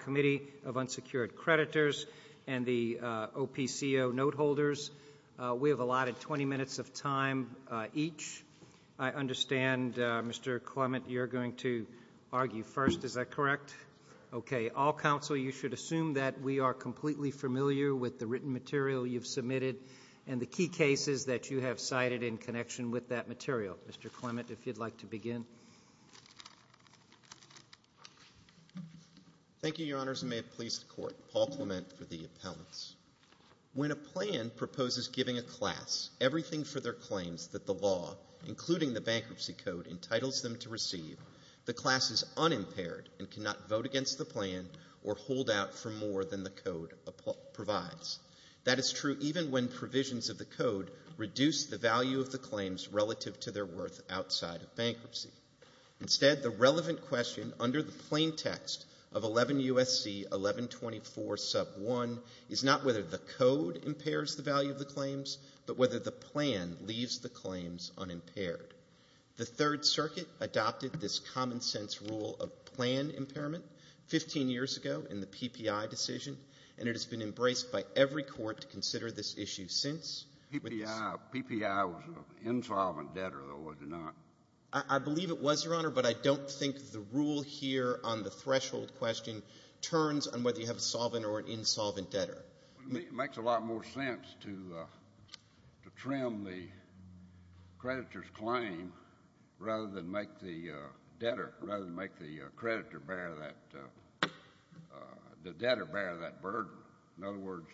Committee of Unsecured Creditors and the OPCO Noteholders. We have allotted 20 minutes of time each. I understand, Mr. Clement, you're going to argue first, is that correct? Okay. All counsel, you should assume that we are completely familiar with the written material you've submitted and the key cases that you have cited in connection with that material. Mr. Clement, if you'd like to begin. Thank you, Your Honors, and may it please the Court. Paul Clement for the appellants. When a plan proposes giving a class everything for their claims that the law, including the bankruptcy code, entitles them to receive, the class is unimpaired and cannot vote against the plan or hold out for more than the code provides. That is true even when they're worth outside of bankruptcy. Instead, the relevant question under the plaintext of 11 U.S.C. 1124 sub 1 is not whether the code impairs the value of the claims, but whether the plan leaves the claims unimpaired. The Third Circuit adopted this common-sense rule of plan impairment 15 years ago in the PPI decision, and it has been embraced by every court to consider this issue since. PPI was an insolvent debtor, though, was it not? I believe it was, Your Honor, but I don't think the rule here on the threshold question turns on whether you have a solvent or an insolvent debtor. It makes a lot more sense to trim the creditor's claim rather than make the debtor — rather than make the creditor bear that — the debtor bear that burden. In other words,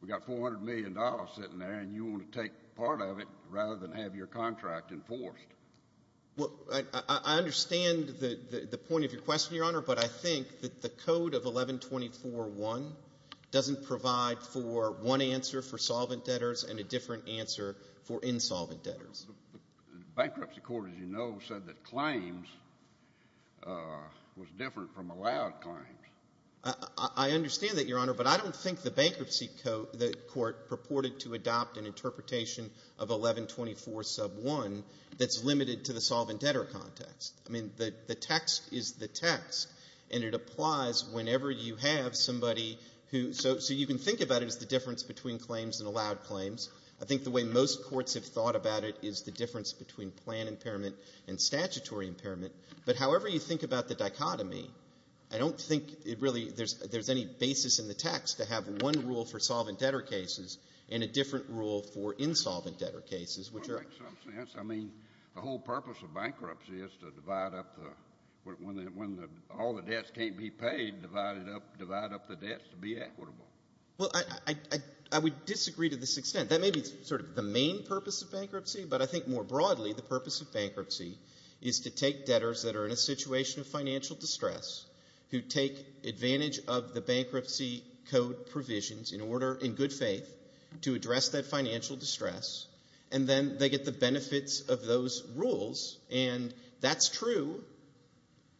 we've got $400 million sitting there, and you want to take part of it rather than have your contract enforced. Well, I understand the point of your question, Your Honor, but I think that the code of 1124.1 doesn't provide for one answer for solvent debtors and a different answer for insolvent debtors. The bankruptcy court, as you know, said that claims was different from allowed claims. I understand that, Your Honor, but I don't think the bankruptcy court purported to adopt an interpretation of 1124.1 that's limited to the solvent debtor context. I mean, the text is the text, and it applies whenever you have somebody who — so you can think about it as the difference between claims and allowed claims. I think the way most courts have thought about it is the difference between plan impairment and statutory impairment. But however you think about the dichotomy, I don't think it really — there's any basis in the text to have one rule for solvent debtor cases and a different rule for insolvent debtor cases, which are — Well, it makes some sense. I mean, the whole purpose of bankruptcy is to divide up the — when all the debts can't be paid, divide it up — divide up the debts to be equitable. Well, I would disagree to this extent. That may be sort of the main purpose of bankruptcy, but I think more broadly, the purpose of bankruptcy is to take debtors that are in a situation of financial distress, who take advantage of the bankruptcy code provisions in order, in good faith, to address that financial distress, and then they get the benefits of those rules. And that's true,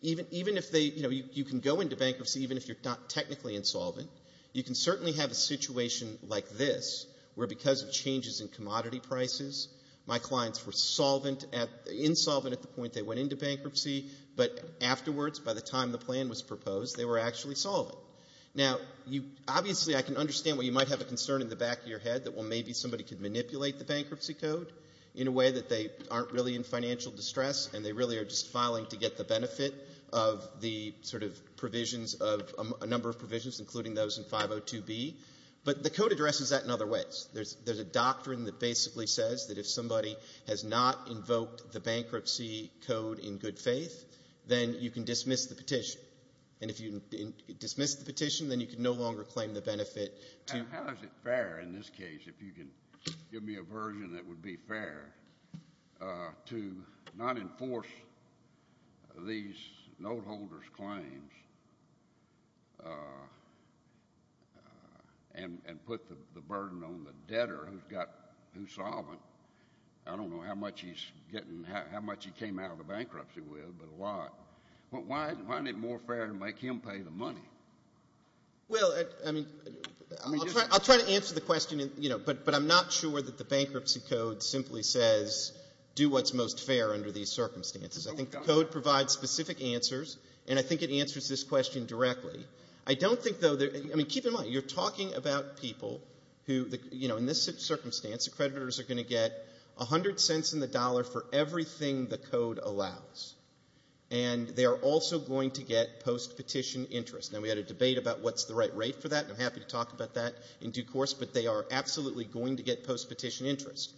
even if they — you know, you can go into bankruptcy even if you're not technically insolvent. You can certainly have a situation like this, where because of changes in commodity prices, my clients were solvent at — insolvent at the point they went into bankruptcy, but afterwards, by the time the plan was proposed, they were actually solvent. Now, you — obviously, I can understand why you might have a concern in the back of your head that, well, maybe somebody could manipulate the bankruptcy code in a way that they aren't really in financial distress, and they really are just filing to get the benefit of the sort of provisions of — a number of provisions, including those in 502B. But the code addresses that in other ways. There's a doctrine that basically says that if somebody has not invoked the bankruptcy code in good faith, then you can dismiss the petition. And if you dismiss the petition, then you can no longer claim the benefit to — and put the burden on the debtor who's got — who's solvent. I don't know how much he's getting — how much he came out of the bankruptcy with, but a lot. Why isn't it more fair to make him pay the money? Well, I mean, I'll try to answer the question, you know, but I'm not sure that the bankruptcy code simply says, do what's most fair under these circumstances. I think the code provides specific answers, and I think it answers this question directly. I don't think, though — I mean, keep in mind, you're talking about people who, you know, in this circumstance, the creditors are going to get 100 cents in the dollar for everything the code allows. And they are also going to get post-petition interest. Now, we had a debate about what's the right rate for that, and I'm happy to talk about that in due course, but they are absolutely going to get post-petition interest.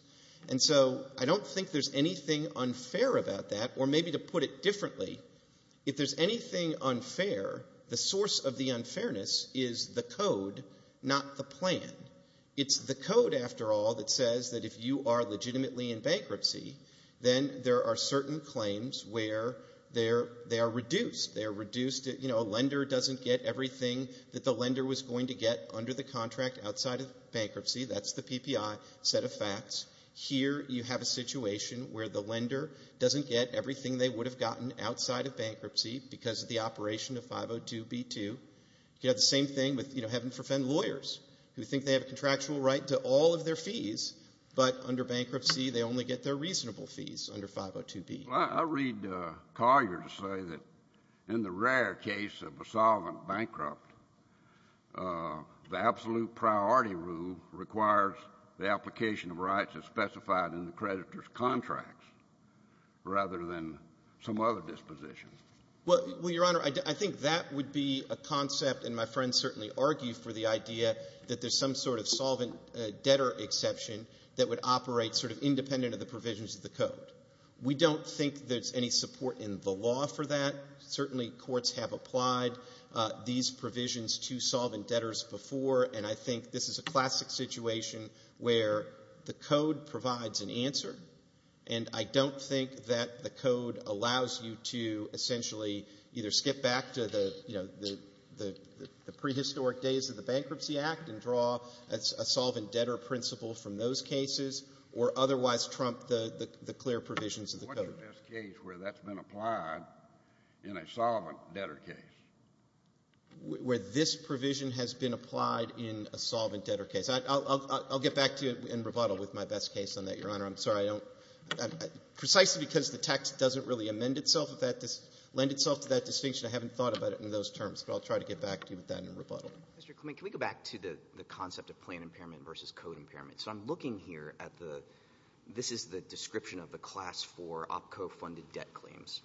And so I don't think there's anything unfair about that. Or maybe to put it differently, if there's anything unfair, the source of the unfairness is the code, not the plan. It's the code, after all, that says that if you are legitimately in bankruptcy, then there are certain claims where they are reduced. They are reduced — you know, a lender doesn't get everything that the lender was going to get under the contract outside of bankruptcy. That's the PPI set of facts. Here you have a situation where the lender doesn't get everything they would have gotten outside of bankruptcy because of the operation of 502B2. You could have the same thing with, you know, having to defend lawyers who think they have a contractual right to all of their fees, but under bankruptcy they only get their reasonable fees under 502B. I'll read Collier to say that in the rare case of a solvent bankrupt, the absolute priority rule requires the application of rights as specified in the creditor's contract rather than some other disposition. Well, Your Honor, I think that would be a concept, and my friends certainly argue for the idea that there's some sort of solvent debtor exception that would operate sort of independent of the provisions of the code. We don't think there's any support in the law for that. Certainly courts have applied these provisions to solvent debtors before, and I think this is a classic situation where the code provides an answer, and I don't think that the code allows you to essentially either skip back to the, you know, the prehistoric days of the Bankruptcy Act and draw a solvent debtor principle from those cases where that's been applied in a solvent debtor case. Where this provision has been applied in a solvent debtor case. I'll get back to you in rebuttal with my best case on that, Your Honor. I'm sorry. I don't – precisely because the text doesn't really amend itself, lend itself to that distinction, I haven't thought about it in those terms, but I'll try to get back to you with that in rebuttal. Mr. Clement, can we go back to the concept of plan impairment versus code impairment? So I'm looking here at the – this is the description of the Class IV OPCO-funded debt claims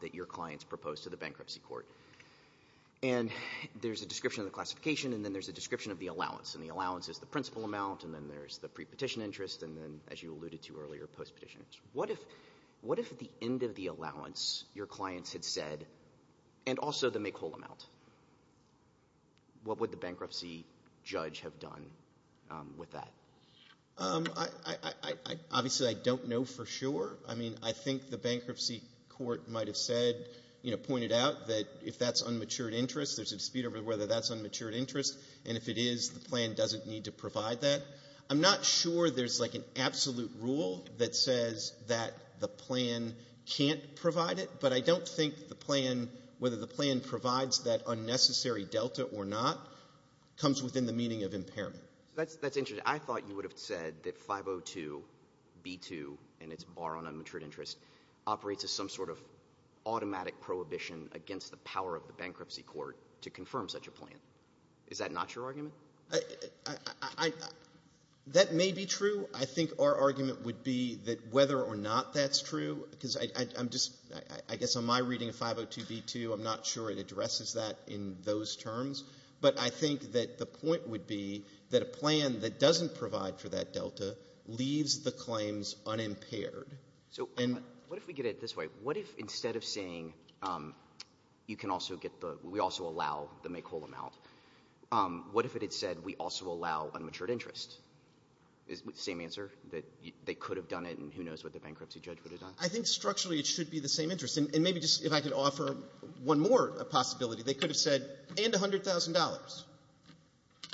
that your clients proposed to the bankruptcy court. And there's a description of the classification, and then there's a description of the allowance. And the allowance is the principal amount, and then there's the pre-petition interest, and then, as you alluded to earlier, post-petition interest. What if at the end of the allowance your clients had said, and also the make-whole amount, what would the bankruptcy judge have done with that? Obviously, I don't know for sure. I mean, I think the bankruptcy court might have said, you know, pointed out that if that's unmatured interest, there's a dispute over whether that's unmatured interest, and if it is, the plan doesn't need to provide that. I'm not sure there's, like, an absolute rule that says that the plan can't provide it, but I don't think the plan, whether the plan provides that unnecessary delta or not, comes within the meaning of impairment. That's interesting. I thought you would have said that 502B2 and its bar on unmatured interest operates as some sort of automatic prohibition against the power of the bankruptcy court to confirm such a plan. Is that not your argument? That may be true. I think our argument would be that whether or not that's true, because I'm just, I guess on my reading of 502B2, I'm not sure it addresses that in those terms, but I think that the point would be that a plan that doesn't provide for that delta leaves the claims unimpaired. So what if we get it this way? What if instead of saying you can also get the, we also allow the make-whole amount, what if it had said we also allow unmatured interest? Same answer? That they could have done it and who knows what the bankruptcy judge would have done? I think structurally it should be the same interest. And maybe just if I could offer one more possibility, they could have said and $100,000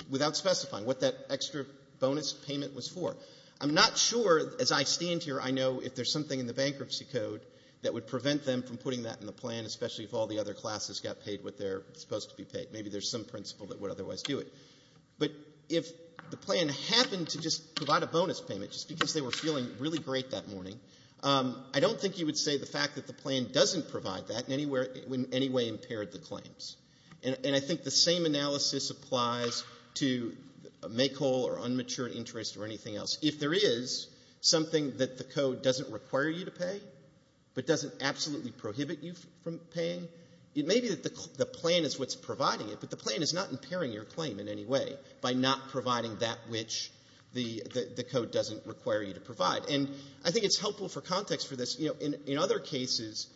without specifying what that extra bonus payment was for. I'm not sure, as I stand here, I know if there's something in the bankruptcy code that would prevent them from putting that in the plan, especially if all the other classes got paid what they're supposed to be paid. Maybe there's some principle that would otherwise do it. But if the plan happened to just provide a bonus payment just because they were feeling really great that morning, I don't think you would say the fact that the plan doesn't provide that in any way impaired the claims. And I think the same analysis applies to make-whole or unmatured interest or anything else. If there is something that the code doesn't require you to pay but doesn't absolutely prohibit you from paying, it may be that the plan is what's providing it, but the plan is not impairing your claim in any way by not providing that which the code doesn't require you to provide. And I think it's helpful for context for this. You know, in other cases,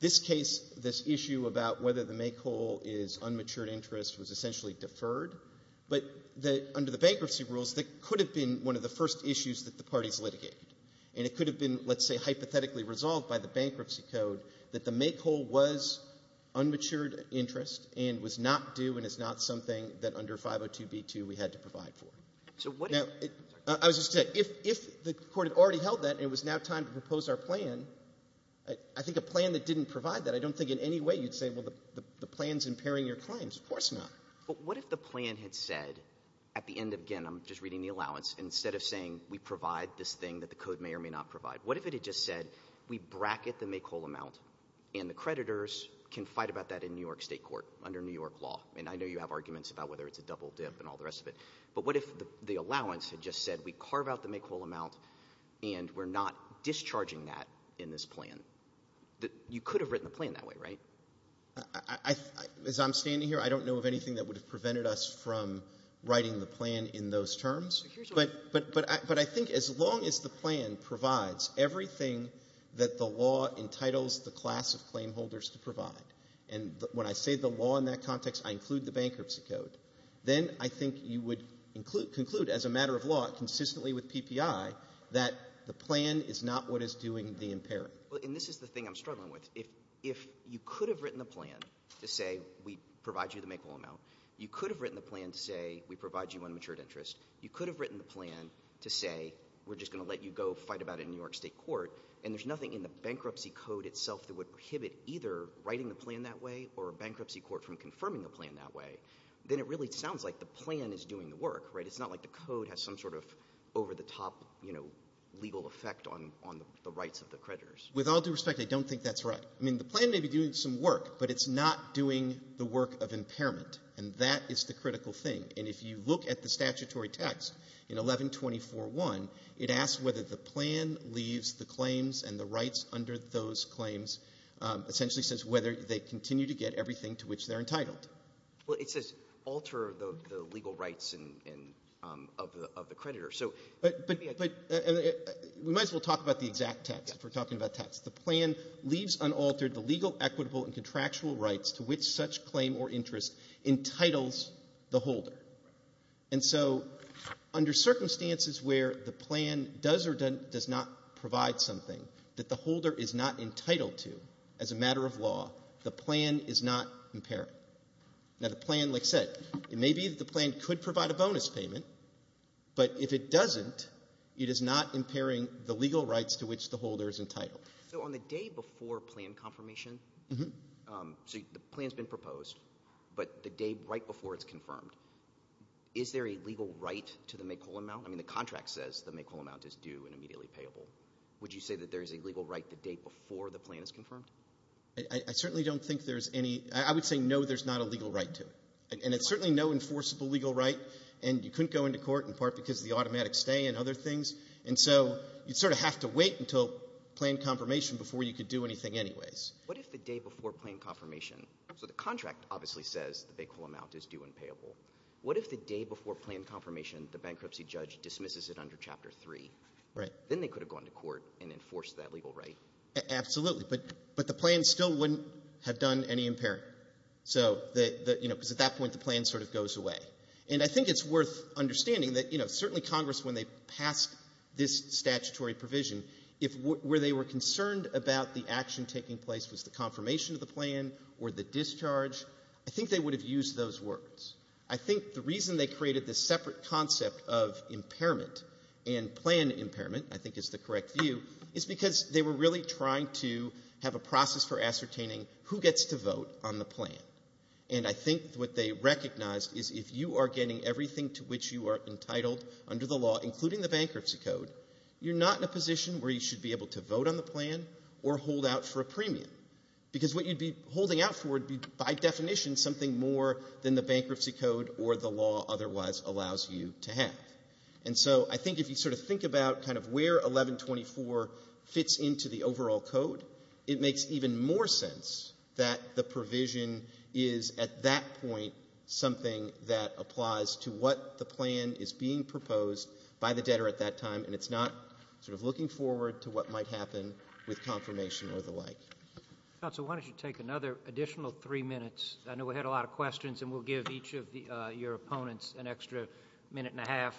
this case, this issue about whether the make-whole is unmatured interest was essentially deferred. But under the bankruptcy rules, that could have been one of the first issues that the parties litigated. And it could have been, let's say, hypothetically resolved by the bankruptcy code that the make-whole was unmatured interest and was not due and is not something that under 502B2 we had to provide for. Now, I was just going to say, if the court had already held that and it was now time to propose our plan, I think a plan that didn't provide that, I don't think in any way you'd say, well, the plan's impairing your claims. Of course not. But what if the plan had said at the end of, again, I'm just reading the allowance, instead of saying we provide this thing that the code may or may not provide, what if it had just said we bracket the make-whole amount and the creditors can fight about that in New York State court under New York law? And I know you have arguments about whether it's a double dip and all the rest of it. But what if the allowance had just said we carve out the make-whole amount and we're not discharging that in this plan? You could have written the plan that way, right? As I'm standing here, I don't know of anything that would have prevented us from writing the plan in those terms. But I think as long as the plan provides everything that the law entitles the class of claimholders to provide, and when I say the law in that context, I include the bankruptcy code, then I think you would conclude as a matter of law, consistently with PPI, that the plan is not what is doing the impairing. And this is the thing I'm struggling with. If you could have written the plan to say we provide you the make-whole amount, you could have written the plan to say we provide you unmatured interest, you could have written the plan to say we're just going to let you go fight about it in New York State court, and there's nothing in the bankruptcy code itself that would prohibit either writing the plan that way or a bankruptcy court from confirming the plan that way, then it really sounds like the plan is doing the work, right? It's not like the code has some sort of over-the-top legal effect on the rights of the creditors. With all due respect, I don't think that's right. I mean the plan may be doing some work, but it's not doing the work of impairment. And that is the critical thing. And if you look at the statutory text in 1124.1, it asks whether the plan leaves the claims and the rights under those claims, essentially says whether they continue to get everything to which they're entitled. Well, it says alter the legal rights of the creditor. But we might as well talk about the exact text if we're talking about text. The plan leaves unaltered the legal, equitable, and contractual rights to which such claim or interest entitles the holder. And so under circumstances where the plan does or does not provide something that the holder is not entitled to as a matter of law, the plan is not impairing. Now, the plan, like I said, it may be that the plan could provide a bonus payment, but if it doesn't, it is not impairing the legal rights to which the holder is entitled. So on the day before plan confirmation, so the plan's been proposed, but the day right before it's confirmed, is there a legal right to the make-all amount? I mean, the contract says the make-all amount is due and immediately payable. Would you say that there is a legal right the day before the plan is confirmed? I certainly don't think there's any. I would say no, there's not a legal right to it. And it's certainly no enforceable legal right, and you couldn't go into court in part because of the automatic stay and other things. And so you'd sort of have to wait until plan confirmation before you could do anything anyways. What if the day before plan confirmation, so the contract obviously says the make-all amount is due and payable. What if the day before plan confirmation the bankruptcy judge dismisses it under Chapter 3? Right. Then they could have gone to court and enforced that legal right. Absolutely. But the plan still wouldn't have done any impairing. So, you know, because at that point the plan sort of goes away. And I think it's worth understanding that, you know, certainly Congress when they passed this statutory provision, if where they were concerned about the action taking place was the confirmation of the plan or the discharge, I think they would have used those words. I think the reason they created this separate concept of impairment and plan impairment, I think is the correct view, is because they were really trying to have a process for ascertaining who gets to vote on the plan. And I think what they recognized is if you are getting everything to which you are entitled under the law, including the bankruptcy code, you're not in a position where you should be able to vote on the plan or hold out for a premium. Because what you'd be holding out for would be, by definition, something more than the bankruptcy code or the law otherwise allows you to have. And so I think if you sort of think about kind of where 1124 fits into the overall code, it makes even more sense that the provision is at that point something that applies to what the plan is being proposed by the debtor at that time, and it's not sort of looking forward to what might happen with confirmation or the like. Counsel, why don't you take another additional three minutes? I know we had a lot of questions, and we'll give each of your opponents an extra minute and a half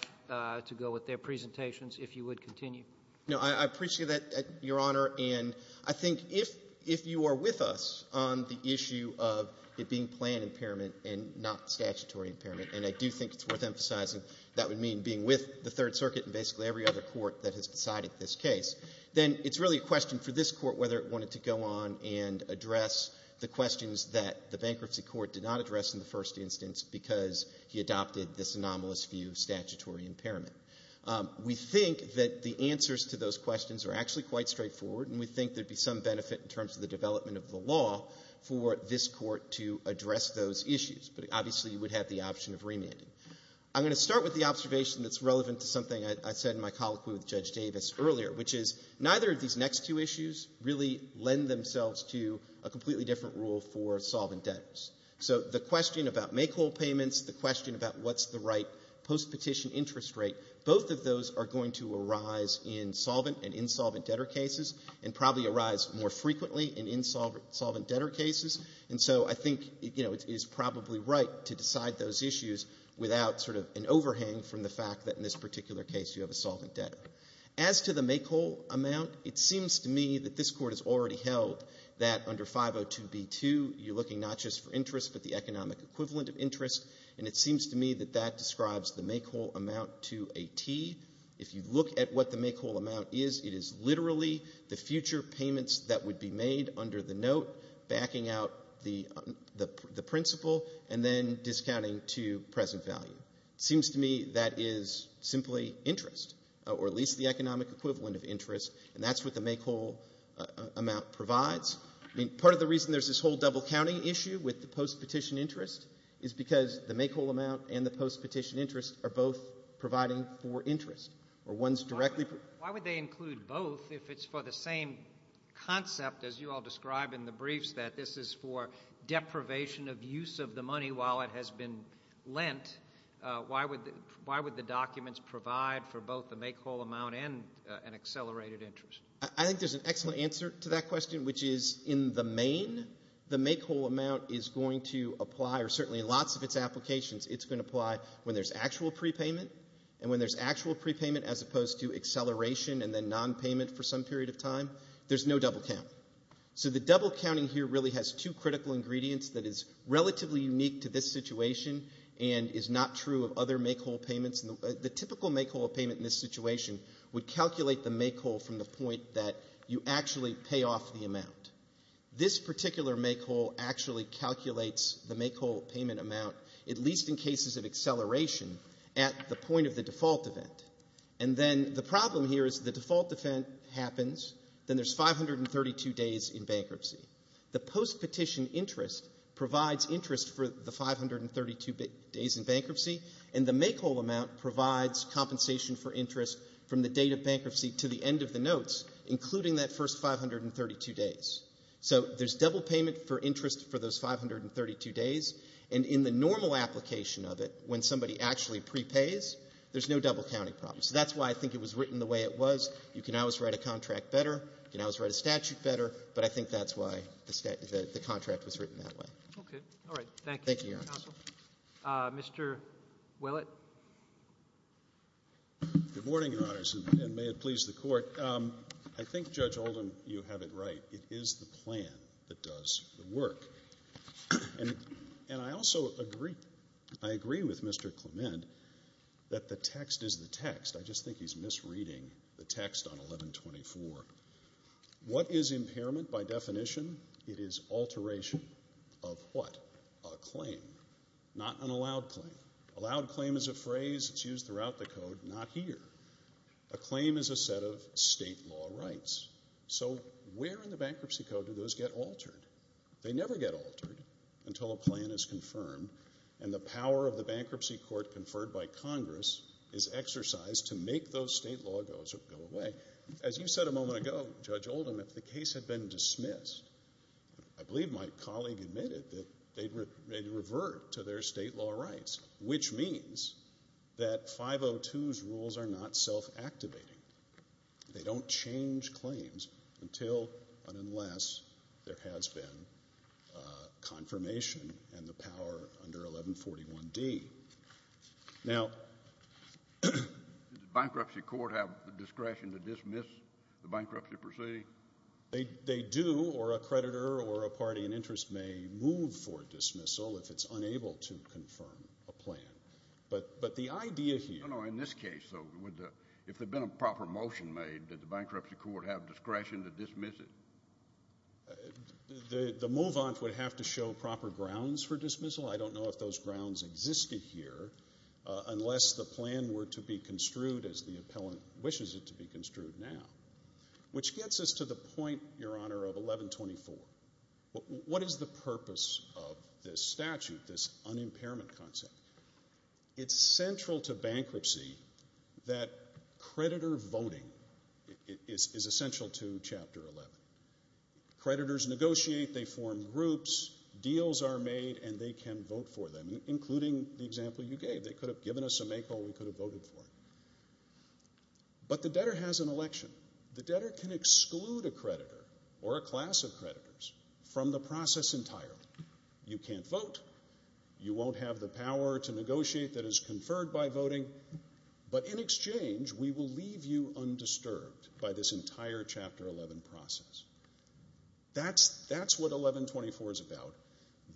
to go with their presentations if you would continue. No, I appreciate that, Your Honor. And I think if you are with us on the issue of it being plan impairment and not statutory impairment, and I do think it's worth emphasizing that would mean being with the Third Circuit and basically every other court that has decided this case, then it's really a question for this court whether it wanted to go on and address the questions that the bankruptcy court did not address in the first instance because he adopted this anomalous view of statutory impairment. We think that the answers to those questions are actually quite straightforward, and we think there would be some benefit in terms of the development of the law for this court to address those issues. But obviously, you would have the option of remanding. I'm going to start with the observation that's relevant to something I said in my colloquy with Judge Davis earlier, which is neither of these next two issues really lend themselves to a completely different rule for solvent debtors. So the question about make whole payments, the question about what's the right post-petition interest rate, both of those are going to arise in solvent and insolvent debtor cases and probably arise more frequently in insolvent debtor cases. And so I think it is probably right to decide those issues without sort of an overhang from the fact that in this particular case you have a solvent debtor. As to the make whole amount, it seems to me that this court has already held that under 502b2 you're looking not just for interest but the economic equivalent of interest, and it seems to me that that describes the make whole amount to a T. If you look at what the make whole amount is, it is literally the future payments that would be made under the note backing out the principal and then discounting to present value. It seems to me that is simply interest or at least the economic equivalent of interest, and that's what the make whole amount provides. Part of the reason there's this whole double counting issue with the post-petition interest is because the make whole amount and the post-petition interest are both providing for interest. Why would they include both if it's for the same concept as you all describe in the briefs, that this is for deprivation of use of the money while it has been lent? Why would the documents provide for both the make whole amount and an accelerated interest? I think there's an excellent answer to that question, which is in the main, the make whole amount is going to apply, or certainly in lots of its applications, it's going to apply when there's actual prepayment, and when there's actual prepayment as opposed to acceleration and then nonpayment for some period of time, there's no double count. So the double counting here really has two critical ingredients that is relatively unique to this situation and is not true of other make whole payments. The typical make whole payment in this situation would calculate the make whole from the point that you actually pay off the amount. This particular make whole actually calculates the make whole payment amount, at least in cases of acceleration, at the point of the default event. And then the problem here is the default event happens, then there's 532 days in bankruptcy. The post-petition interest provides interest for the 532 days in bankruptcy, and the make whole amount provides compensation for interest from the date of bankruptcy to the end of the notes, including that first 532 days. So there's double payment for interest for those 532 days, and in the normal application of it, when somebody actually prepays, there's no double counting problem. So that's why I think it was written the way it was. You can always write a contract better. You can always write a statute better. But I think that's why the contract was written that way. Okay. All right. Thank you. Thank you, Your Honor. Mr. Willett. Good morning, Your Honors, and may it please the Court. I think, Judge Oldham, you have it right. It is the plan that does the work. And I also agree with Mr. Clement that the text is the text. I just think he's misreading the text on 1124. What is impairment by definition? It is alteration of what? A claim. Not an allowed claim. Allowed claim is a phrase that's used throughout the Code, not here. A claim is a set of state law rights. So where in the Bankruptcy Code do those get altered? They never get altered until a plan is confirmed and the power of the bankruptcy court conferred by Congress is exercised to make those state laws go away. As you said a moment ago, Judge Oldham, if the case had been dismissed, I believe my colleague admitted that they'd revert to their state law rights, which means that 502's rules are not self-activating. They don't change claims until and unless there has been confirmation and the power under 1141D. Now. Does the bankruptcy court have the discretion to dismiss the bankruptcy proceeding? They do, or a creditor or a party in interest may move for dismissal if it's unable to confirm a plan. But the idea here. No, no, in this case, though, if there had been a proper motion made, did the bankruptcy court have discretion to dismiss it? The move-on would have to show proper grounds for dismissal. I don't know if those grounds existed here unless the plan were to be construed as the appellant wishes it to be construed now. Which gets us to the point, Your Honor, of 1124. What is the purpose of this statute, this unimpairment concept? It's central to bankruptcy that creditor voting is essential to Chapter 11. Creditors negotiate, they form groups, deals are made, and they can vote for them, including the example you gave. They could have given us a make or we could have voted for it. But the debtor has an election. The debtor can exclude a creditor or a class of creditors from the process entirely. You can't vote. You won't have the power to negotiate that is conferred by voting. But in exchange, we will leave you undisturbed by this entire Chapter 11 process. That's what 1124 is about.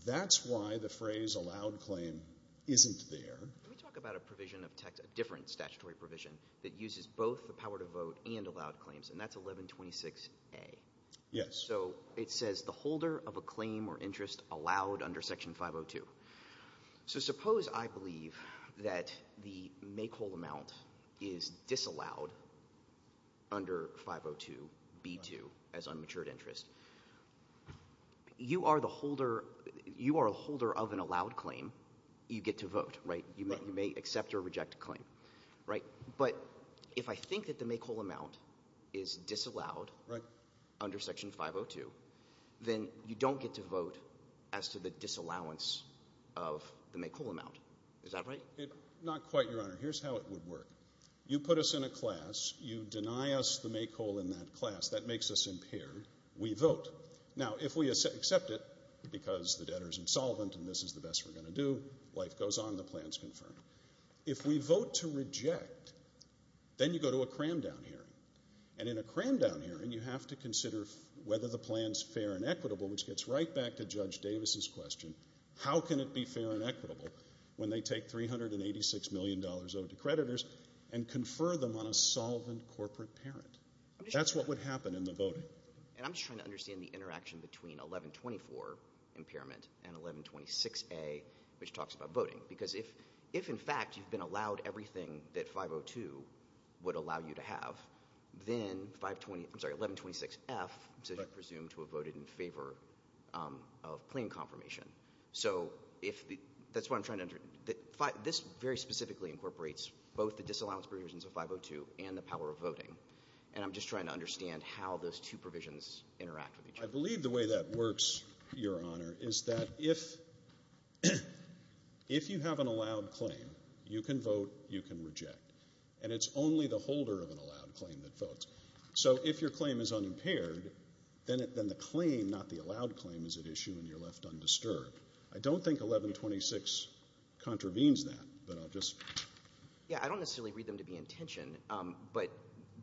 That's why the phrase allowed claim isn't there. Let me talk about a provision of text, a different statutory provision, that uses both the power to vote and allowed claims, and that's 1126A. Yes. So it says the holder of a claim or interest allowed under Section 502. So suppose I believe that the make whole amount is disallowed under 502B2 as unmatured interest. You are the holder of an allowed claim. You get to vote, right? You may accept or reject a claim, right? But if I think that the make whole amount is disallowed under Section 502, then you don't get to vote as to the disallowance of the make whole amount. Is that right? Not quite, Your Honor. Here's how it would work. You put us in a class. You deny us the make whole in that class. That makes us impaired. We vote. Now, if we accept it because the debtor is insolvent and this is the best we're going to do, life goes on, the plan is confirmed. If we vote to reject, then you go to a cram-down hearing, and in a cram-down hearing you have to consider whether the plan is fair and equitable, which gets right back to Judge Davis's question. How can it be fair and equitable when they take $386 million owed to creditors and confer them on a solvent corporate parent? That's what would happen in the voting. And I'm just trying to understand the interaction between 1124 impairment and 1126A, which talks about voting, because if, in fact, you've been allowed everything that 502 would allow you to have, then 1126F says you're presumed to have voted in favor of plain confirmation. So that's what I'm trying to understand. This very specifically incorporates both the disallowance provisions of 502 and the power of voting, and I'm just trying to understand how those two provisions interact with each other. I believe the way that works, Your Honor, is that if you have an allowed claim, you can vote, you can reject, and it's only the holder of an allowed claim that votes. So if your claim is unimpaired, then the claim, not the allowed claim, is at issue and you're left undisturbed. I don't think 1126 contravenes that, but I'll just... Yeah, I don't necessarily read them to be in tension, but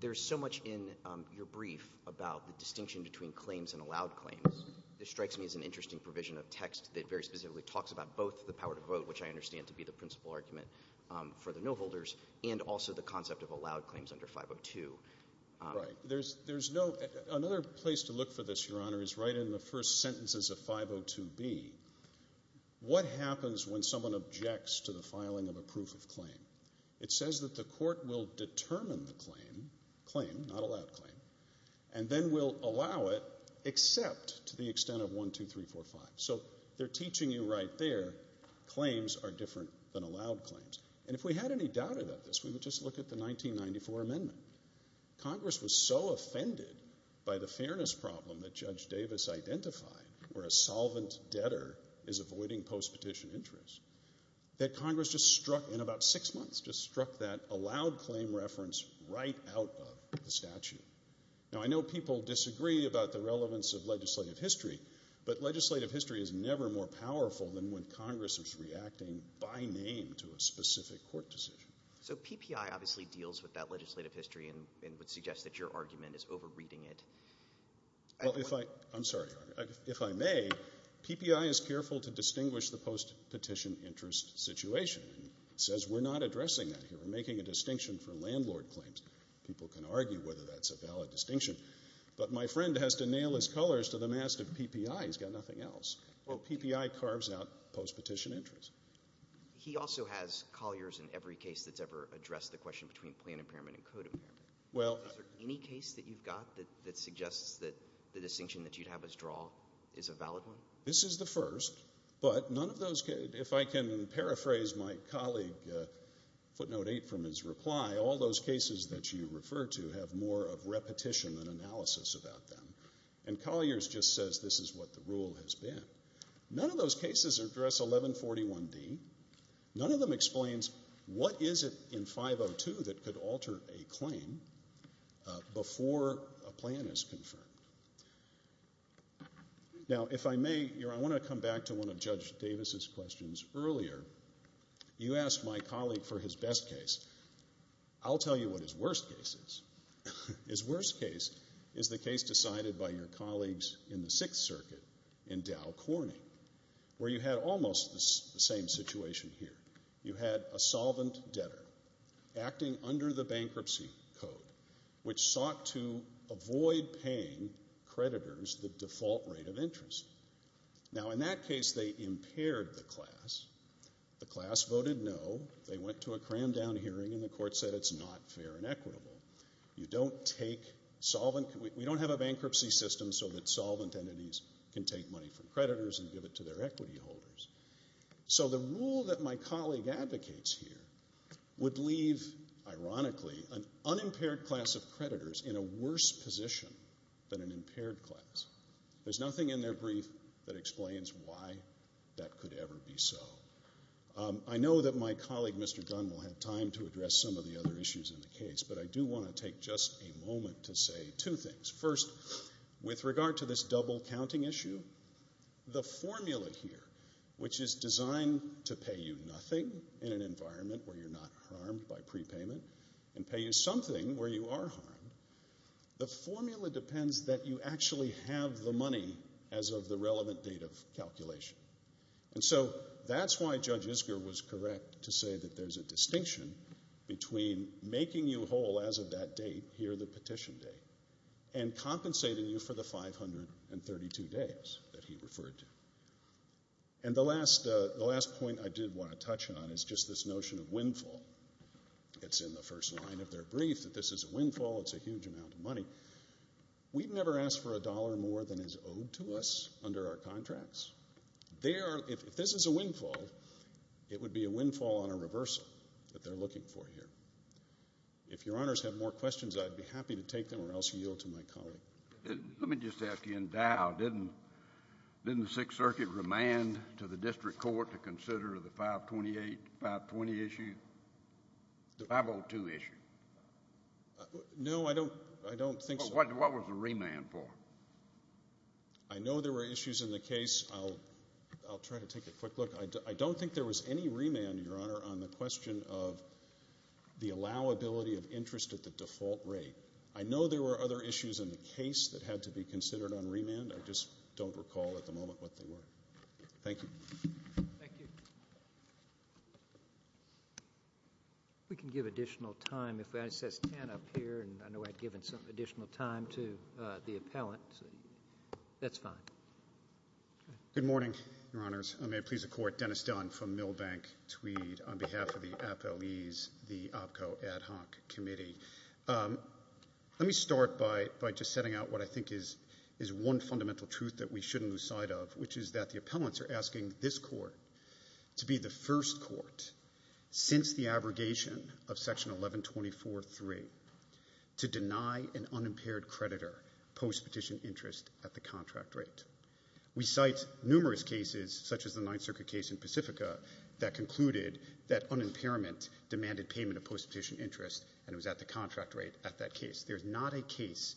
there's so much in your brief about the distinction between claims and allowed claims. This strikes me as an interesting provision of text that very specifically talks about both the power to vote, which I understand to be the principal argument for the no-holders, and also the concept of allowed claims under 502. Right. There's no... Another place to look for this, Your Honor, is right in the first sentences of 502B. What happens when someone objects to the filing of a proof of claim? It says that the court will determine the claim, claim, not allowed claim, and then will allow it except to the extent of 1, 2, 3, 4, 5. So they're teaching you right there claims are different than allowed claims. And if we had any doubt about this, we would just look at the 1994 amendment. Congress was so offended by the fairness problem that Judge Davis identified, where a solvent debtor is avoiding post-petition interest, that Congress just struck in about six months, just struck that allowed claim reference right out of the statute. Now, I know people disagree about the relevance of legislative history, but legislative history is never more powerful than when Congress is reacting by name to a specific court decision. So PPI obviously deals with that legislative history and would suggest that your argument is over-reading it. I'm sorry, Your Honor. If I may, PPI is careful to distinguish the post-petition interest situation. It says we're not addressing that here. We're making a distinction for landlord claims. People can argue whether that's a valid distinction. But my friend has to nail his colors to the mast of PPI. He's got nothing else. And PPI carves out post-petition interest. He also has colliers in every case that's ever addressed the question between plan impairment and code impairment. Is there any case that you've got that suggests that the distinction that you'd have us draw is a valid one? This is the first. But none of those cases – if I can paraphrase my colleague, footnote 8 from his reply, all those cases that you refer to have more of repetition than analysis about them. And colliers just says this is what the rule has been. None of those cases address 1141D. None of them explains what is it in 502 that could alter a claim before a plan is confirmed. Now, if I may, Your Honor, I want to come back to one of Judge Davis's questions earlier. You asked my colleague for his best case. I'll tell you what his worst case is. His worst case is the case decided by your colleagues in the Sixth Circuit in Dow Corning, where you had almost the same situation here. You had a solvent debtor acting under the bankruptcy code, which sought to avoid paying creditors the default rate of interest. Now, in that case, they impaired the class. The class voted no. They went to a crammed-down hearing, and the court said it's not fair and equitable. You don't take solvent. We don't have a bankruptcy system so that solvent entities can take money from creditors and give it to their equity holders. So the rule that my colleague advocates here would leave, ironically, an unimpaired class of creditors in a worse position than an impaired class. There's nothing in their brief that explains why that could ever be so. I know that my colleague, Mr. Dunn, will have time to address some of the other issues in the case, but I do want to take just a moment to say two things. First, with regard to this double-counting issue, the formula here, which is designed to pay you nothing in an environment where you're not harmed by prepayment and pay you something where you are harmed, the formula depends that you actually have the money as of the relevant date of calculation. And so that's why Judge Isger was correct to say that there's a distinction between making you whole as of that date, here the petition date, and compensating you for the 532 days that he referred to. And the last point I did want to touch on is just this notion of windfall. It's in the first line of their brief that this is a windfall, it's a huge amount of money. We've never asked for a dollar more than is owed to us under our contracts. If this is a windfall, it would be a windfall on a reversal that they're looking for here. If Your Honors have more questions, I'd be happy to take them or else yield to my colleague. Let me just ask you in doubt, didn't the Sixth Circuit remand to the district court to consider the 528, 520 issue, 502 issue? No, I don't think so. What was the remand for? I know there were issues in the case. I'll try to take a quick look. I don't think there was any remand, Your Honor, on the question of the allowability of interest at the default rate. I know there were other issues in the case that had to be considered on remand. I just don't recall at the moment what they were. Thank you. Thank you. We can give additional time. It says 10 up here, and I know I've given some additional time to the appellant. That's fine. Good morning, Your Honors. I may please the Court. Dennis Dunn from Milbank Tweed on behalf of the Apoees, the OPCO Ad Hoc Committee. Let me start by just setting out what I think is one fundamental truth that we shouldn't lose sight of, which is that the appellants are asking this Court to be the first court since the abrogation of Section 1124.3 to deny an unimpaired creditor post-petition interest at the contract rate. We cite numerous cases, such as the Ninth Circuit case in Pacifica, that concluded that unimpairment demanded payment of post-petition interest, and it was at the contract rate at that case. There's not a case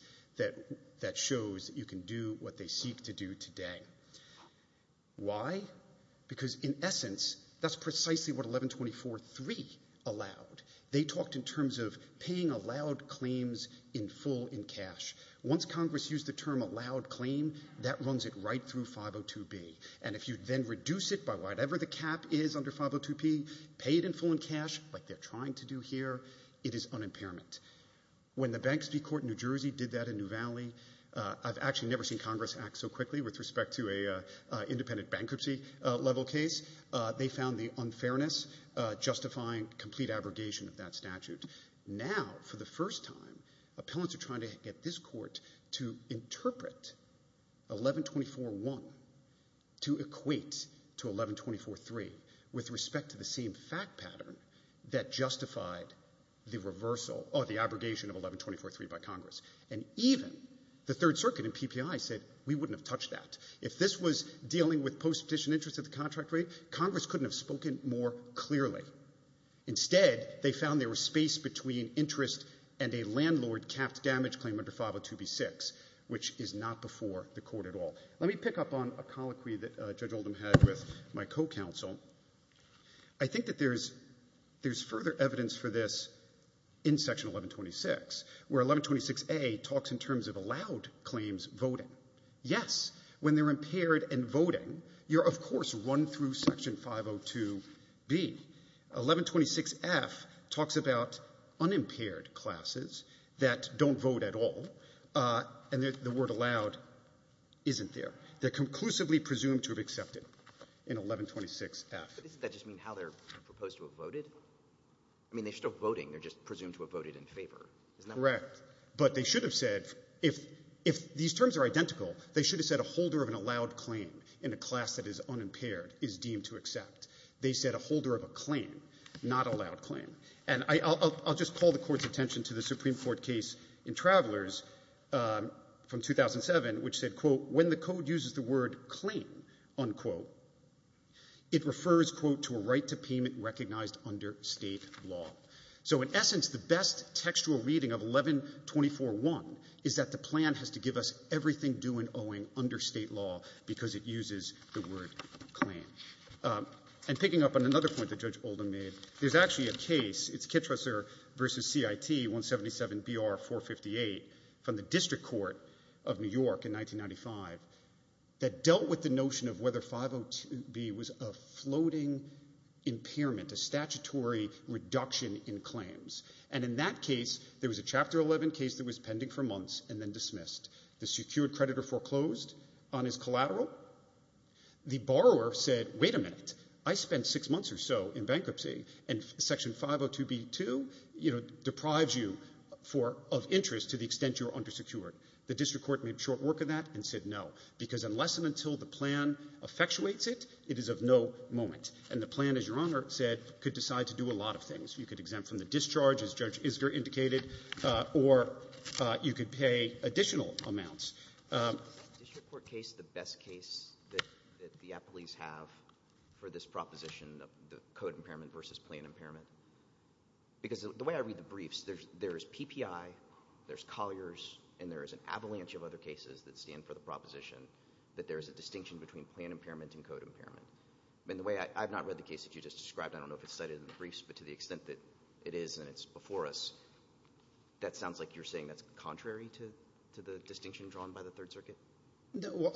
that shows you can do what they seek to do today. Why? Because in essence, that's precisely what 1124.3 allowed. They talked in terms of paying allowed claims in full in cash. Once Congress used the term allowed claim, that runs it right through 502B. And if you then reduce it by whatever the cap is under 502B, pay it in full in cash, like they're trying to do here, it is unimpairment. When the Banks v. Court in New Jersey did that in New Valley, I've actually never seen Congress act so quickly with respect to an independent bankruptcy level case. They found the unfairness justifying complete abrogation of that statute. Now, for the first time, appellants are trying to get this Court to interpret 1124.1 to equate to 1124.3 with respect to the same fact pattern that justified the reversal or the abrogation of 1124.3 by Congress. And even the Third Circuit in PPI said we wouldn't have touched that. If this was dealing with post-petition interest at the contract rate, Congress couldn't have spoken more clearly. Instead, they found there was space between interest and a landlord-capped damage claim under 502B.6, which is not before the Court at all. Let me pick up on a colloquy that Judge Oldham had with my co-counsel. I think that there's further evidence for this in Section 1126, where 1126A talks in terms of allowed claims voting. Yes, when they're impaired and voting, you're, of course, run through Section 502B. 1126F talks about unimpaired classes that don't vote at all, and the word allowed isn't there. They're conclusively presumed to have accepted in 1126F. But doesn't that just mean how they're proposed to have voted? I mean, they're still voting. They're just presumed to have voted in favor. Correct. But they should have said if these terms are identical, they should have said a holder of an allowed claim in a class that is unimpaired is deemed to accept. They said a holder of a claim, not a allowed claim. And I'll just call the Court's attention to the Supreme Court case in Travelers from 2007, which said, quote, when the code uses the word claim, unquote, it refers, quote, to a right to payment recognized under State law. So in essence, the best textual reading of 1124.1 is that the plan has to give us everything due and owing under State law because it uses the word claim. And picking up on another point that Judge Oldham made, there's actually a case, it's Kittresser v. CIT 177BR458 from the District Court of New York in 1995 that dealt with the notion of whether 502B was a floating impairment, a statutory reduction in claims. And in that case, there was a Chapter 11 case that was pending for months and then dismissed. The secured creditor foreclosed on his collateral. The borrower said, wait a minute, I spent six months or so in bankruptcy, and Section 502B2, you know, deprives you for of interest to the extent you're undersecured. The District Court made short work of that and said no, because unless and until the plan effectuates it, it is of no moment. And the plan, as Your Honor said, could decide to do a lot of things. You could exempt from the discharge, as Judge Isger indicated, or you could pay additional amounts. Is the District Court case the best case that the appellees have for this proposition of the code impairment versus plan impairment? Because the way I read the briefs, there's PPI, there's Collier's, and there is an avalanche of other cases that stand for the proposition that there is a distinction between plan impairment and code impairment. And the way I've not read the case that you just described, I don't know if it's cited in the briefs, but to the extent that it is and it's before us, that sounds like you're saying that's contrary to the distinction drawn by the Third Circuit?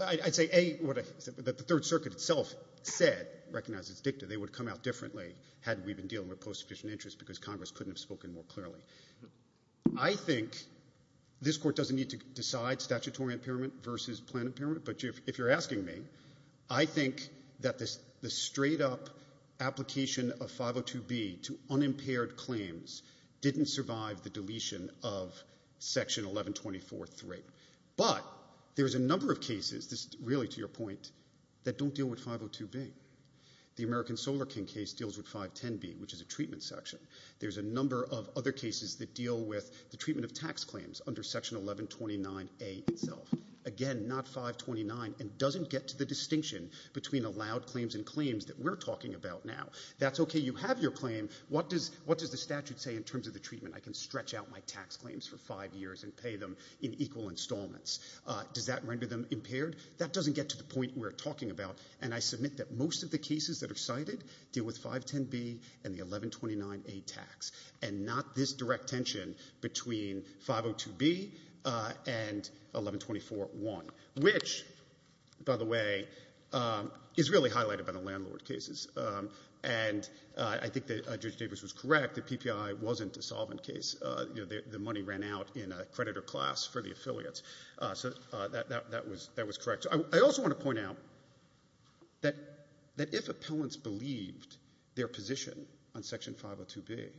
I'd say, A, what the Third Circuit itself said, recognized as dicta, they would come out differently had we been dealing with post-sufficient interest because Congress couldn't have spoken more clearly. I think this Court doesn't need to decide statutory impairment versus plan impairment, but if you're asking me, I think that the straight-up application of 502B to unimpaired claims didn't survive the deletion of Section 1124.3. But there's a number of cases, really to your point, that don't deal with 502B. The American Solar King case deals with 510B, which is a treatment section. There's a number of other cases that deal with the treatment of tax claims under Section 1129A itself. Again, not 529, and doesn't get to the distinction between allowed claims and claims that we're talking about now. That's okay, you have your claim. What does the statute say in terms of the treatment? I can stretch out my tax claims for five years and pay them in equal installments. Does that render them impaired? That doesn't get to the point we're talking about, and I submit that most of the cases that are cited deal with 510B and the 1129A tax and not this direct tension between 502B and 1124.1, which, by the way, is really highlighted by the landlord cases. And I think that Judge Davis was correct that PPI wasn't a solvent case. The money ran out in a creditor class for the affiliates. So that was correct. I also want to point out that if appellants believed their position on Section 502B,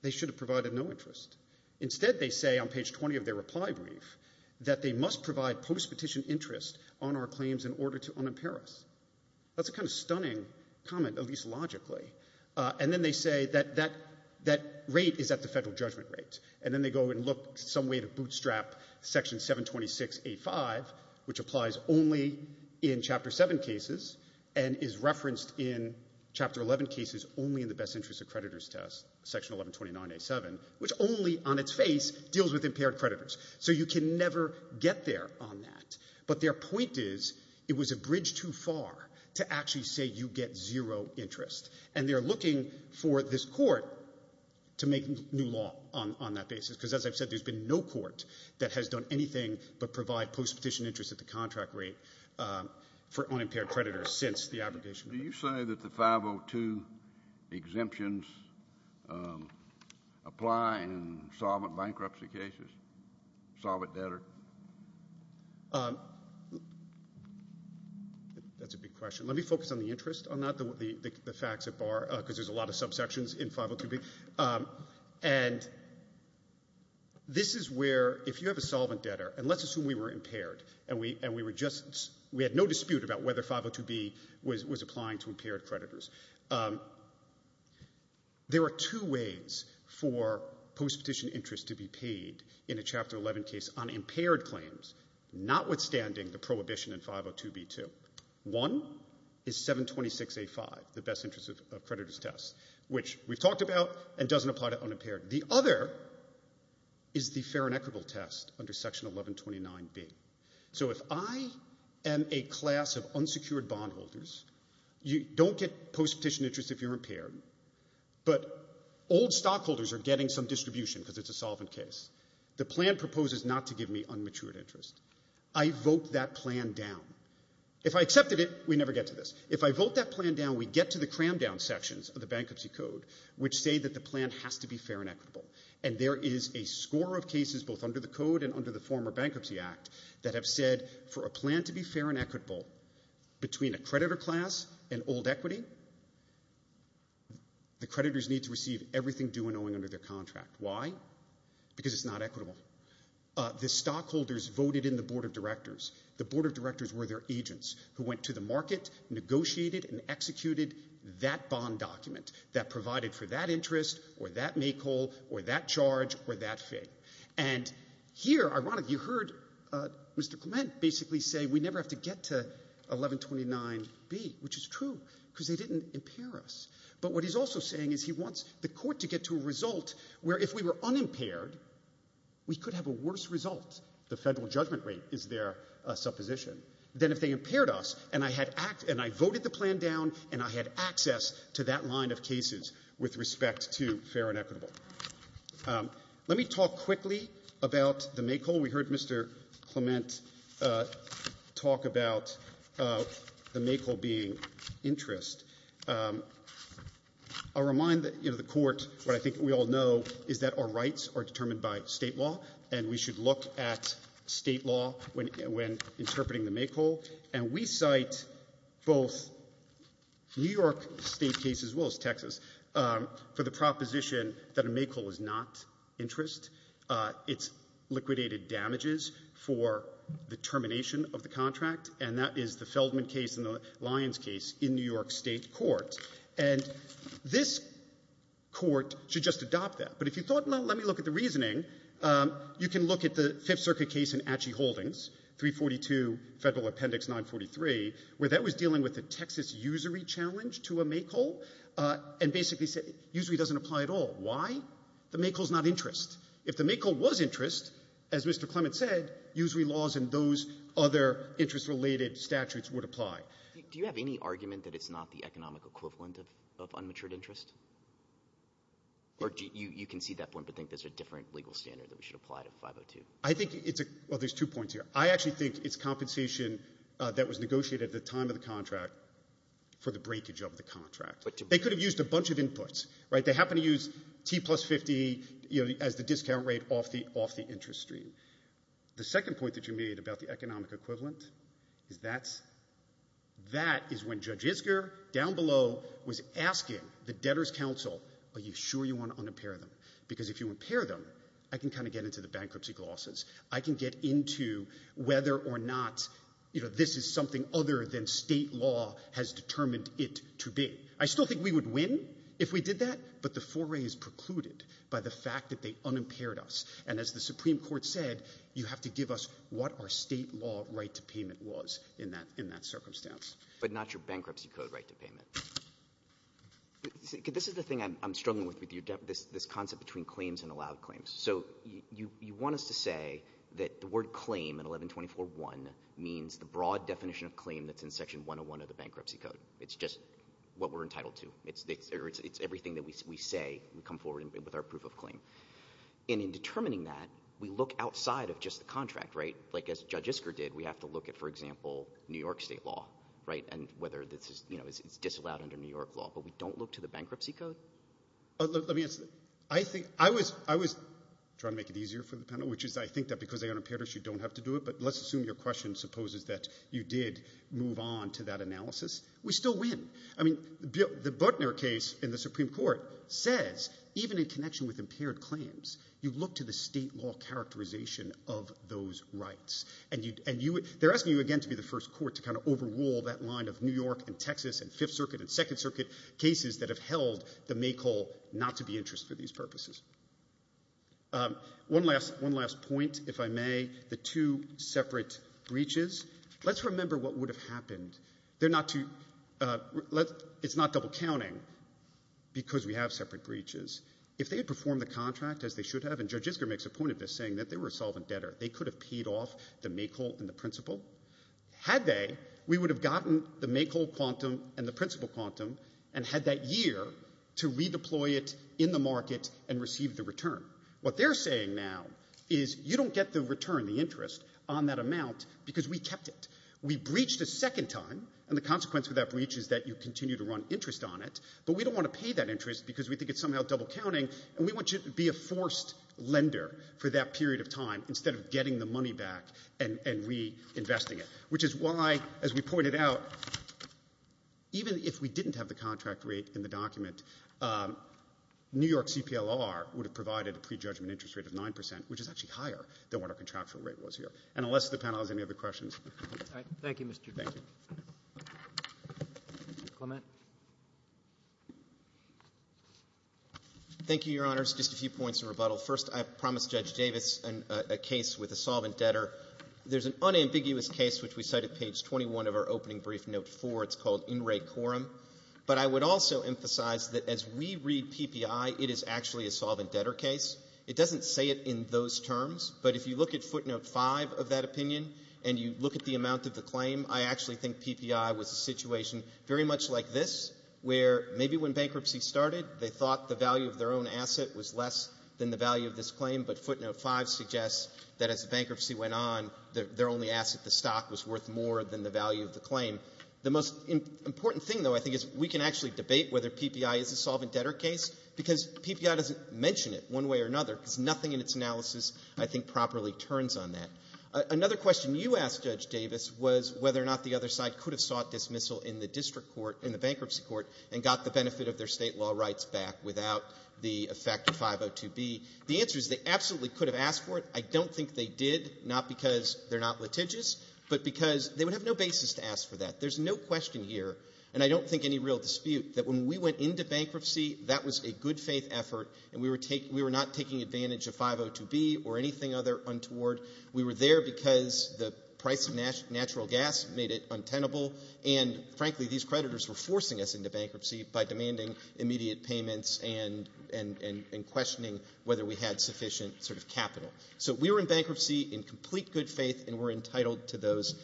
they should have provided no interest. Instead, they say on page 20 of their reply brief that they must provide post-petition interest on our claims in order to unimpair us. That's a kind of stunning comment, at least logically. And then they say that that rate is at the federal judgment rate. And then they go and look some way to bootstrap Section 726A5, which applies only in Chapter 7 cases and is referenced in Chapter 11 cases only in the best interest of creditors test, Section 1129A7, which only on its face deals with impaired creditors. So you can never get there on that. But their point is it was a bridge too far to actually say you get zero interest. And they're looking for this court to make new law on that basis, because as I've said, there's been no court that has done anything but provide post-petition interest at the contract rate for unimpaired creditors since the abrogation. Do you say that the 502 exemptions apply in solvent bankruptcy cases, solvent debtor? That's a big question. Let me focus on the interest, not the facts at bar, because there's a lot of subsections in 502B. And this is where if you have a solvent debtor, and let's assume we were impaired and we had no dispute about whether 502B was applying to impaired creditors. There are two ways for post-petition interest to be paid in a Chapter 11 case on impaired claims, notwithstanding the prohibition in 502B2. One is 726A5, the best interest of creditors test, which we've talked about and doesn't apply to unimpaired. The other is the fair and equitable test under Section 1129B. So if I am a class of unsecured bondholders, you don't get post-petition interest if you're impaired, but old stockholders are getting some distribution because it's a solvent case. The plan proposes not to give me unmatured interest. I vote that plan down. If I accepted it, we never get to this. If I vote that plan down, we get to the cram-down sections of the Bankruptcy Code which say that the plan has to be fair and equitable. And there is a score of cases both under the Code and under the former Bankruptcy Act that have said for a plan to be fair and equitable between a creditor class and old equity, the creditors need to receive everything due and owing under their contract. Why? Because it's not equitable. The stockholders voted in the Board of Directors. The Board of Directors were their agents who went to the market, negotiated, and executed that bond document that provided for that interest or that make-hole or that charge or that fee. And here, ironically, you heard Mr. Clement basically say we never have to get to 1129B, which is true because they didn't impair us. But what he's also saying is he wants the court to get to a result where if we were unimpaired, we could have a worse result. The federal judgment rate is their supposition. Then if they impaired us and I voted the plan down and I had access to that line of cases with respect to fair and equitable. Let me talk quickly about the make-hole. We heard Mr. Clement talk about the make-hole being interest. I'll remind the court what I think we all know is that our rights are determined by State law and we should look at State law when interpreting the make-hole. And we cite both New York State case as well as Texas for the proposition that a make-hole is not interest. It's liquidated damages for the termination of the contract, and that is the Feldman case and the Lyons case in New York State court. And this court should just adopt that. But if you thought, well, let me look at the reasoning, you can look at the Fifth Circuit case in Atchee Holdings, 342 Federal Appendix 943, where that was dealing with the Texas usury challenge to a make-hole and basically said usury doesn't apply at all. Why? The make-hole is not interest. If the make-hole was interest, as Mr. Clement said, usury laws and those other interest-related statutes would apply. Do you have any argument that it's not the economic equivalent of unmatured interest? Or you can see that point but think there's a different legal standard that we should apply to 502? I think it's a – well, there's two points here. I actually think it's compensation that was negotiated at the time of the contract for the breakage of the contract. They could have used a bunch of inputs, right? But they happened to use T plus 50 as the discount rate off the interest stream. The second point that you made about the economic equivalent is that's – that is when Judge Isger down below was asking the Debtors' Council, are you sure you want to unpair them? Because if you unpair them, I can kind of get into the bankruptcy clauses. I can get into whether or not, you know, this is something other than State law has determined it to be. I still think we would win if we did that, but the foray is precluded by the fact that they unimpaired us. And as the Supreme Court said, you have to give us what our State law right to payment was in that circumstance. But not your bankruptcy code right to payment. This is the thing I'm struggling with with this concept between claims and allowed claims. So you want us to say that the word claim in 1124.1 means the broad definition of claim that's in Section 101 of the Bankruptcy Code. It's just what we're entitled to. It's everything that we say. We come forward with our proof of claim. And in determining that, we look outside of just the contract, right? Like as Judge Isger did, we have to look at, for example, New York State law, right, and whether this is – you know, it's disallowed under New York law. But we don't look to the bankruptcy code? Let me answer that. I think – I was trying to make it easier for the panel, which is I think that because they unimpaired us, you don't have to do it. But let's assume your question supposes that you did move on to that analysis, we still win. I mean, the Butner case in the Supreme Court says even in connection with impaired claims, you look to the state law characterization of those rights. And they're asking you again to be the first court to kind of overrule that line of New York and Texas and Fifth Circuit and Second Circuit cases that have held the make-all not to be interest for these purposes. One last point, if I may, the two separate breaches. Let's remember what would have happened. They're not to – it's not double counting because we have separate breaches. If they had performed the contract as they should have, and Judge Isker makes a point of this saying that they were a solvent debtor, they could have paid off the make-all and the principal. Had they, we would have gotten the make-all quantum and the principal quantum and had that year to redeploy it in the market and receive the return. What they're saying now is you don't get the return, the interest, on that amount because we kept it. We breached a second time, and the consequence of that breach is that you continue to run interest on it, but we don't want to pay that interest because we think it's somehow double counting, and we want you to be a forced lender for that period of time instead of getting the money back and reinvesting it, which is why, as we pointed out, even if we didn't have the contract rate in the document, New York CPLR would have provided a prejudgment interest rate of 9%, which is actually higher than what our contractual rate was here. And unless the panel has any other questions. Thank you, Mr. Davis. Thank you. Clement. Thank you, Your Honors. Just a few points of rebuttal. First, I promised Judge Davis a case with a solvent debtor. There's an unambiguous case, which we cite at page 21 of our opening brief, note 4. It's called In Re Quorum. But I would also emphasize that as we read PPI, it is actually a solvent debtor case. It doesn't say it in those terms. But if you look at footnote 5 of that opinion and you look at the amount of the claim, I actually think PPI was a situation very much like this, where maybe when bankruptcy started, they thought the value of their own asset was less than the value of this claim, but footnote 5 suggests that as the bankruptcy went on, their only asset, the stock, was worth more than the value of the claim. The most important thing, though, I think, is we can actually debate whether PPI is a solvent debtor case because PPI doesn't mention it one way or another because nothing in its analysis I think properly turns on that. Another question you asked, Judge Davis, was whether or not the other side could have sought dismissal in the district court, in the bankruptcy court, and got the benefit of their State law rights back without the effect of 502B. The answer is they absolutely could have asked for it. I don't think they did, not because they're not litigious, but because they would have no basis to ask for that. There's no question here, and I don't think any real dispute, that when we went into bankruptcy, that was a good-faith effort and we were not taking advantage of 502B or anything other untoward. We were there because the price of natural gas made it untenable, and, frankly, these creditors were forcing us into bankruptcy by demanding immediate payments and questioning whether we had sufficient capital. So we were in bankruptcy in complete good faith and were entitled to those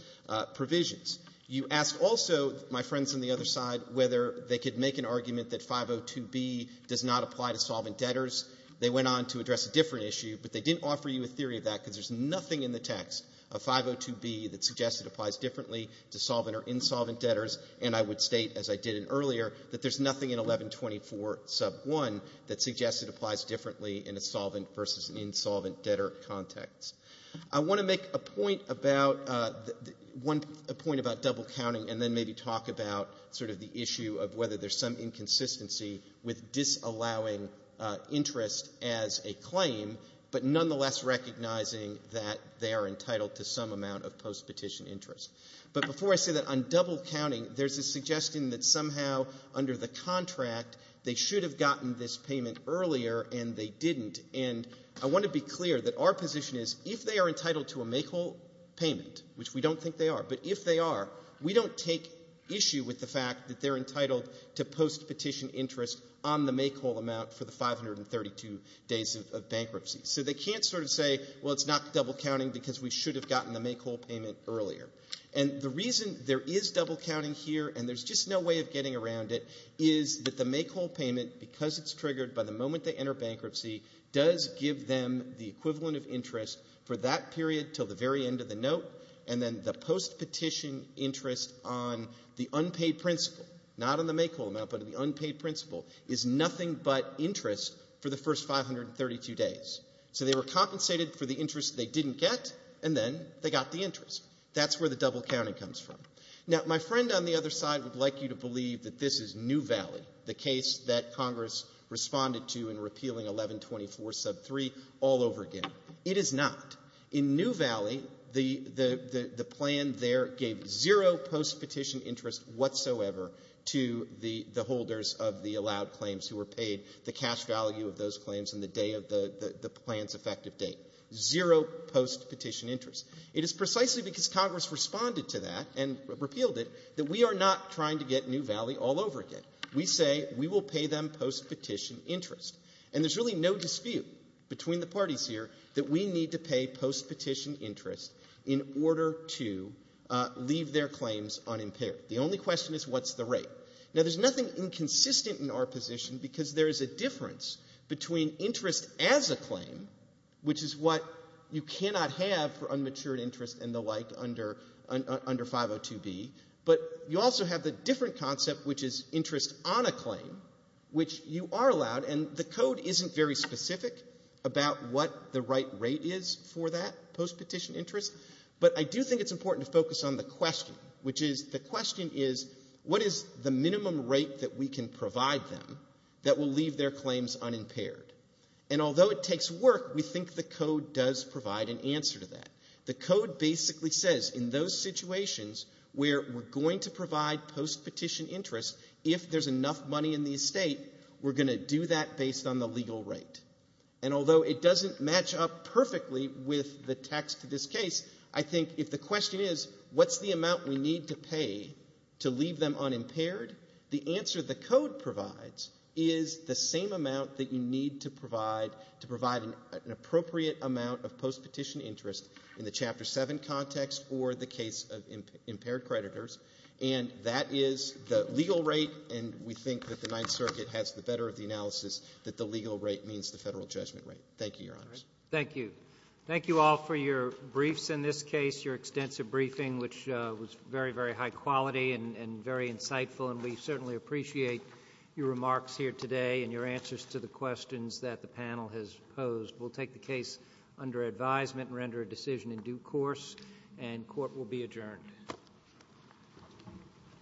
provisions. You asked also, my friends on the other side, whether they could make an argument that 502B does not apply to solvent debtors. They went on to address a different issue, but they didn't offer you a theory of that because there's nothing in the text of 502B that suggests it applies differently to solvent or insolvent debtors, and I would state, as I did in earlier, that there's nothing in 1124 sub 1 that suggests it applies differently in a solvent versus an insolvent debtor context. I want to make a point about double counting and then maybe talk about sort of the issue of whether there's some inconsistency with disallowing interest as a claim, but nonetheless recognizing that they are entitled to some amount of post-petition interest. But before I say that, on double counting, there's a suggestion that somehow under the contract they should have gotten this payment earlier and they didn't, and I want to be clear that our position is if they are entitled to a make-all payment, which we don't think they are, but if they are, we don't take issue with the fact that they're entitled to post-petition interest on the make-all amount for the 532 days of bankruptcy. So they can't sort of say, well, it's not double counting because we should have gotten the make-all payment earlier. And the reason there is double counting here and there's just no way of getting around it is that the make-all payment, because it's triggered by the moment they enter bankruptcy, does give them the equivalent of interest for that period until the very end of the note, and then the post-petition interest on the unpaid principle, not on the make-all amount, but on the unpaid principle, is nothing but interest for the first 532 days. So they were compensated for the interest they didn't get, and then they got the interest. That's where the double counting comes from. Now, my friend on the other side would like you to believe that this is New Valley, the case that Congress responded to in repealing 1124 sub 3 all over again. It is not. In New Valley, the plan there gave zero post-petition interest whatsoever to the holders of the allowed claims who were paid the cash value of those claims on the day of the plan's effective date. Zero post-petition interest. It is precisely because Congress responded to that and repealed it that we are not trying to get New Valley all over again. We say we will pay them post-petition interest. And there's really no dispute between the parties here that we need to pay post-petition interest in order to leave their claims unimpaired. The only question is what's the rate. Now, there's nothing inconsistent in our position because there is a difference between interest as a claim, which is what you cannot have for unmatured interest and the like under 502B, but you also have the different concept, which is interest on a claim, which you are allowed, and the code isn't very specific about what the right rate is for that post-petition interest, but I do think it's important to focus on the question, which is the question is what is the minimum rate that we can provide them that will leave their claims unimpaired? And although it takes work, we think the code does provide an answer to that. The code basically says in those situations where we're going to provide post-petition interest if there's enough money in the estate, we're going to do that based on the legal rate. And although it doesn't match up perfectly with the text of this case, I think if the question is what's the amount we need to pay to leave them unimpaired, the answer the code provides is the same amount that you need to provide to provide an appropriate amount of post-petition interest in the Chapter 7 context or the case of impaired creditors, and that is the legal rate, and we think that the Ninth Circuit has the better of the analysis that the legal rate means the Federal judgment rate. Thank you, Your Honors. Thank you. Thank you all for your briefs in this case, your extensive briefing, which was very, very high quality and very insightful, and we certainly appreciate your remarks here today and your answers to the questions that the panel has posed. We'll take the case under advisement and render a decision in due course, and court will be adjourned.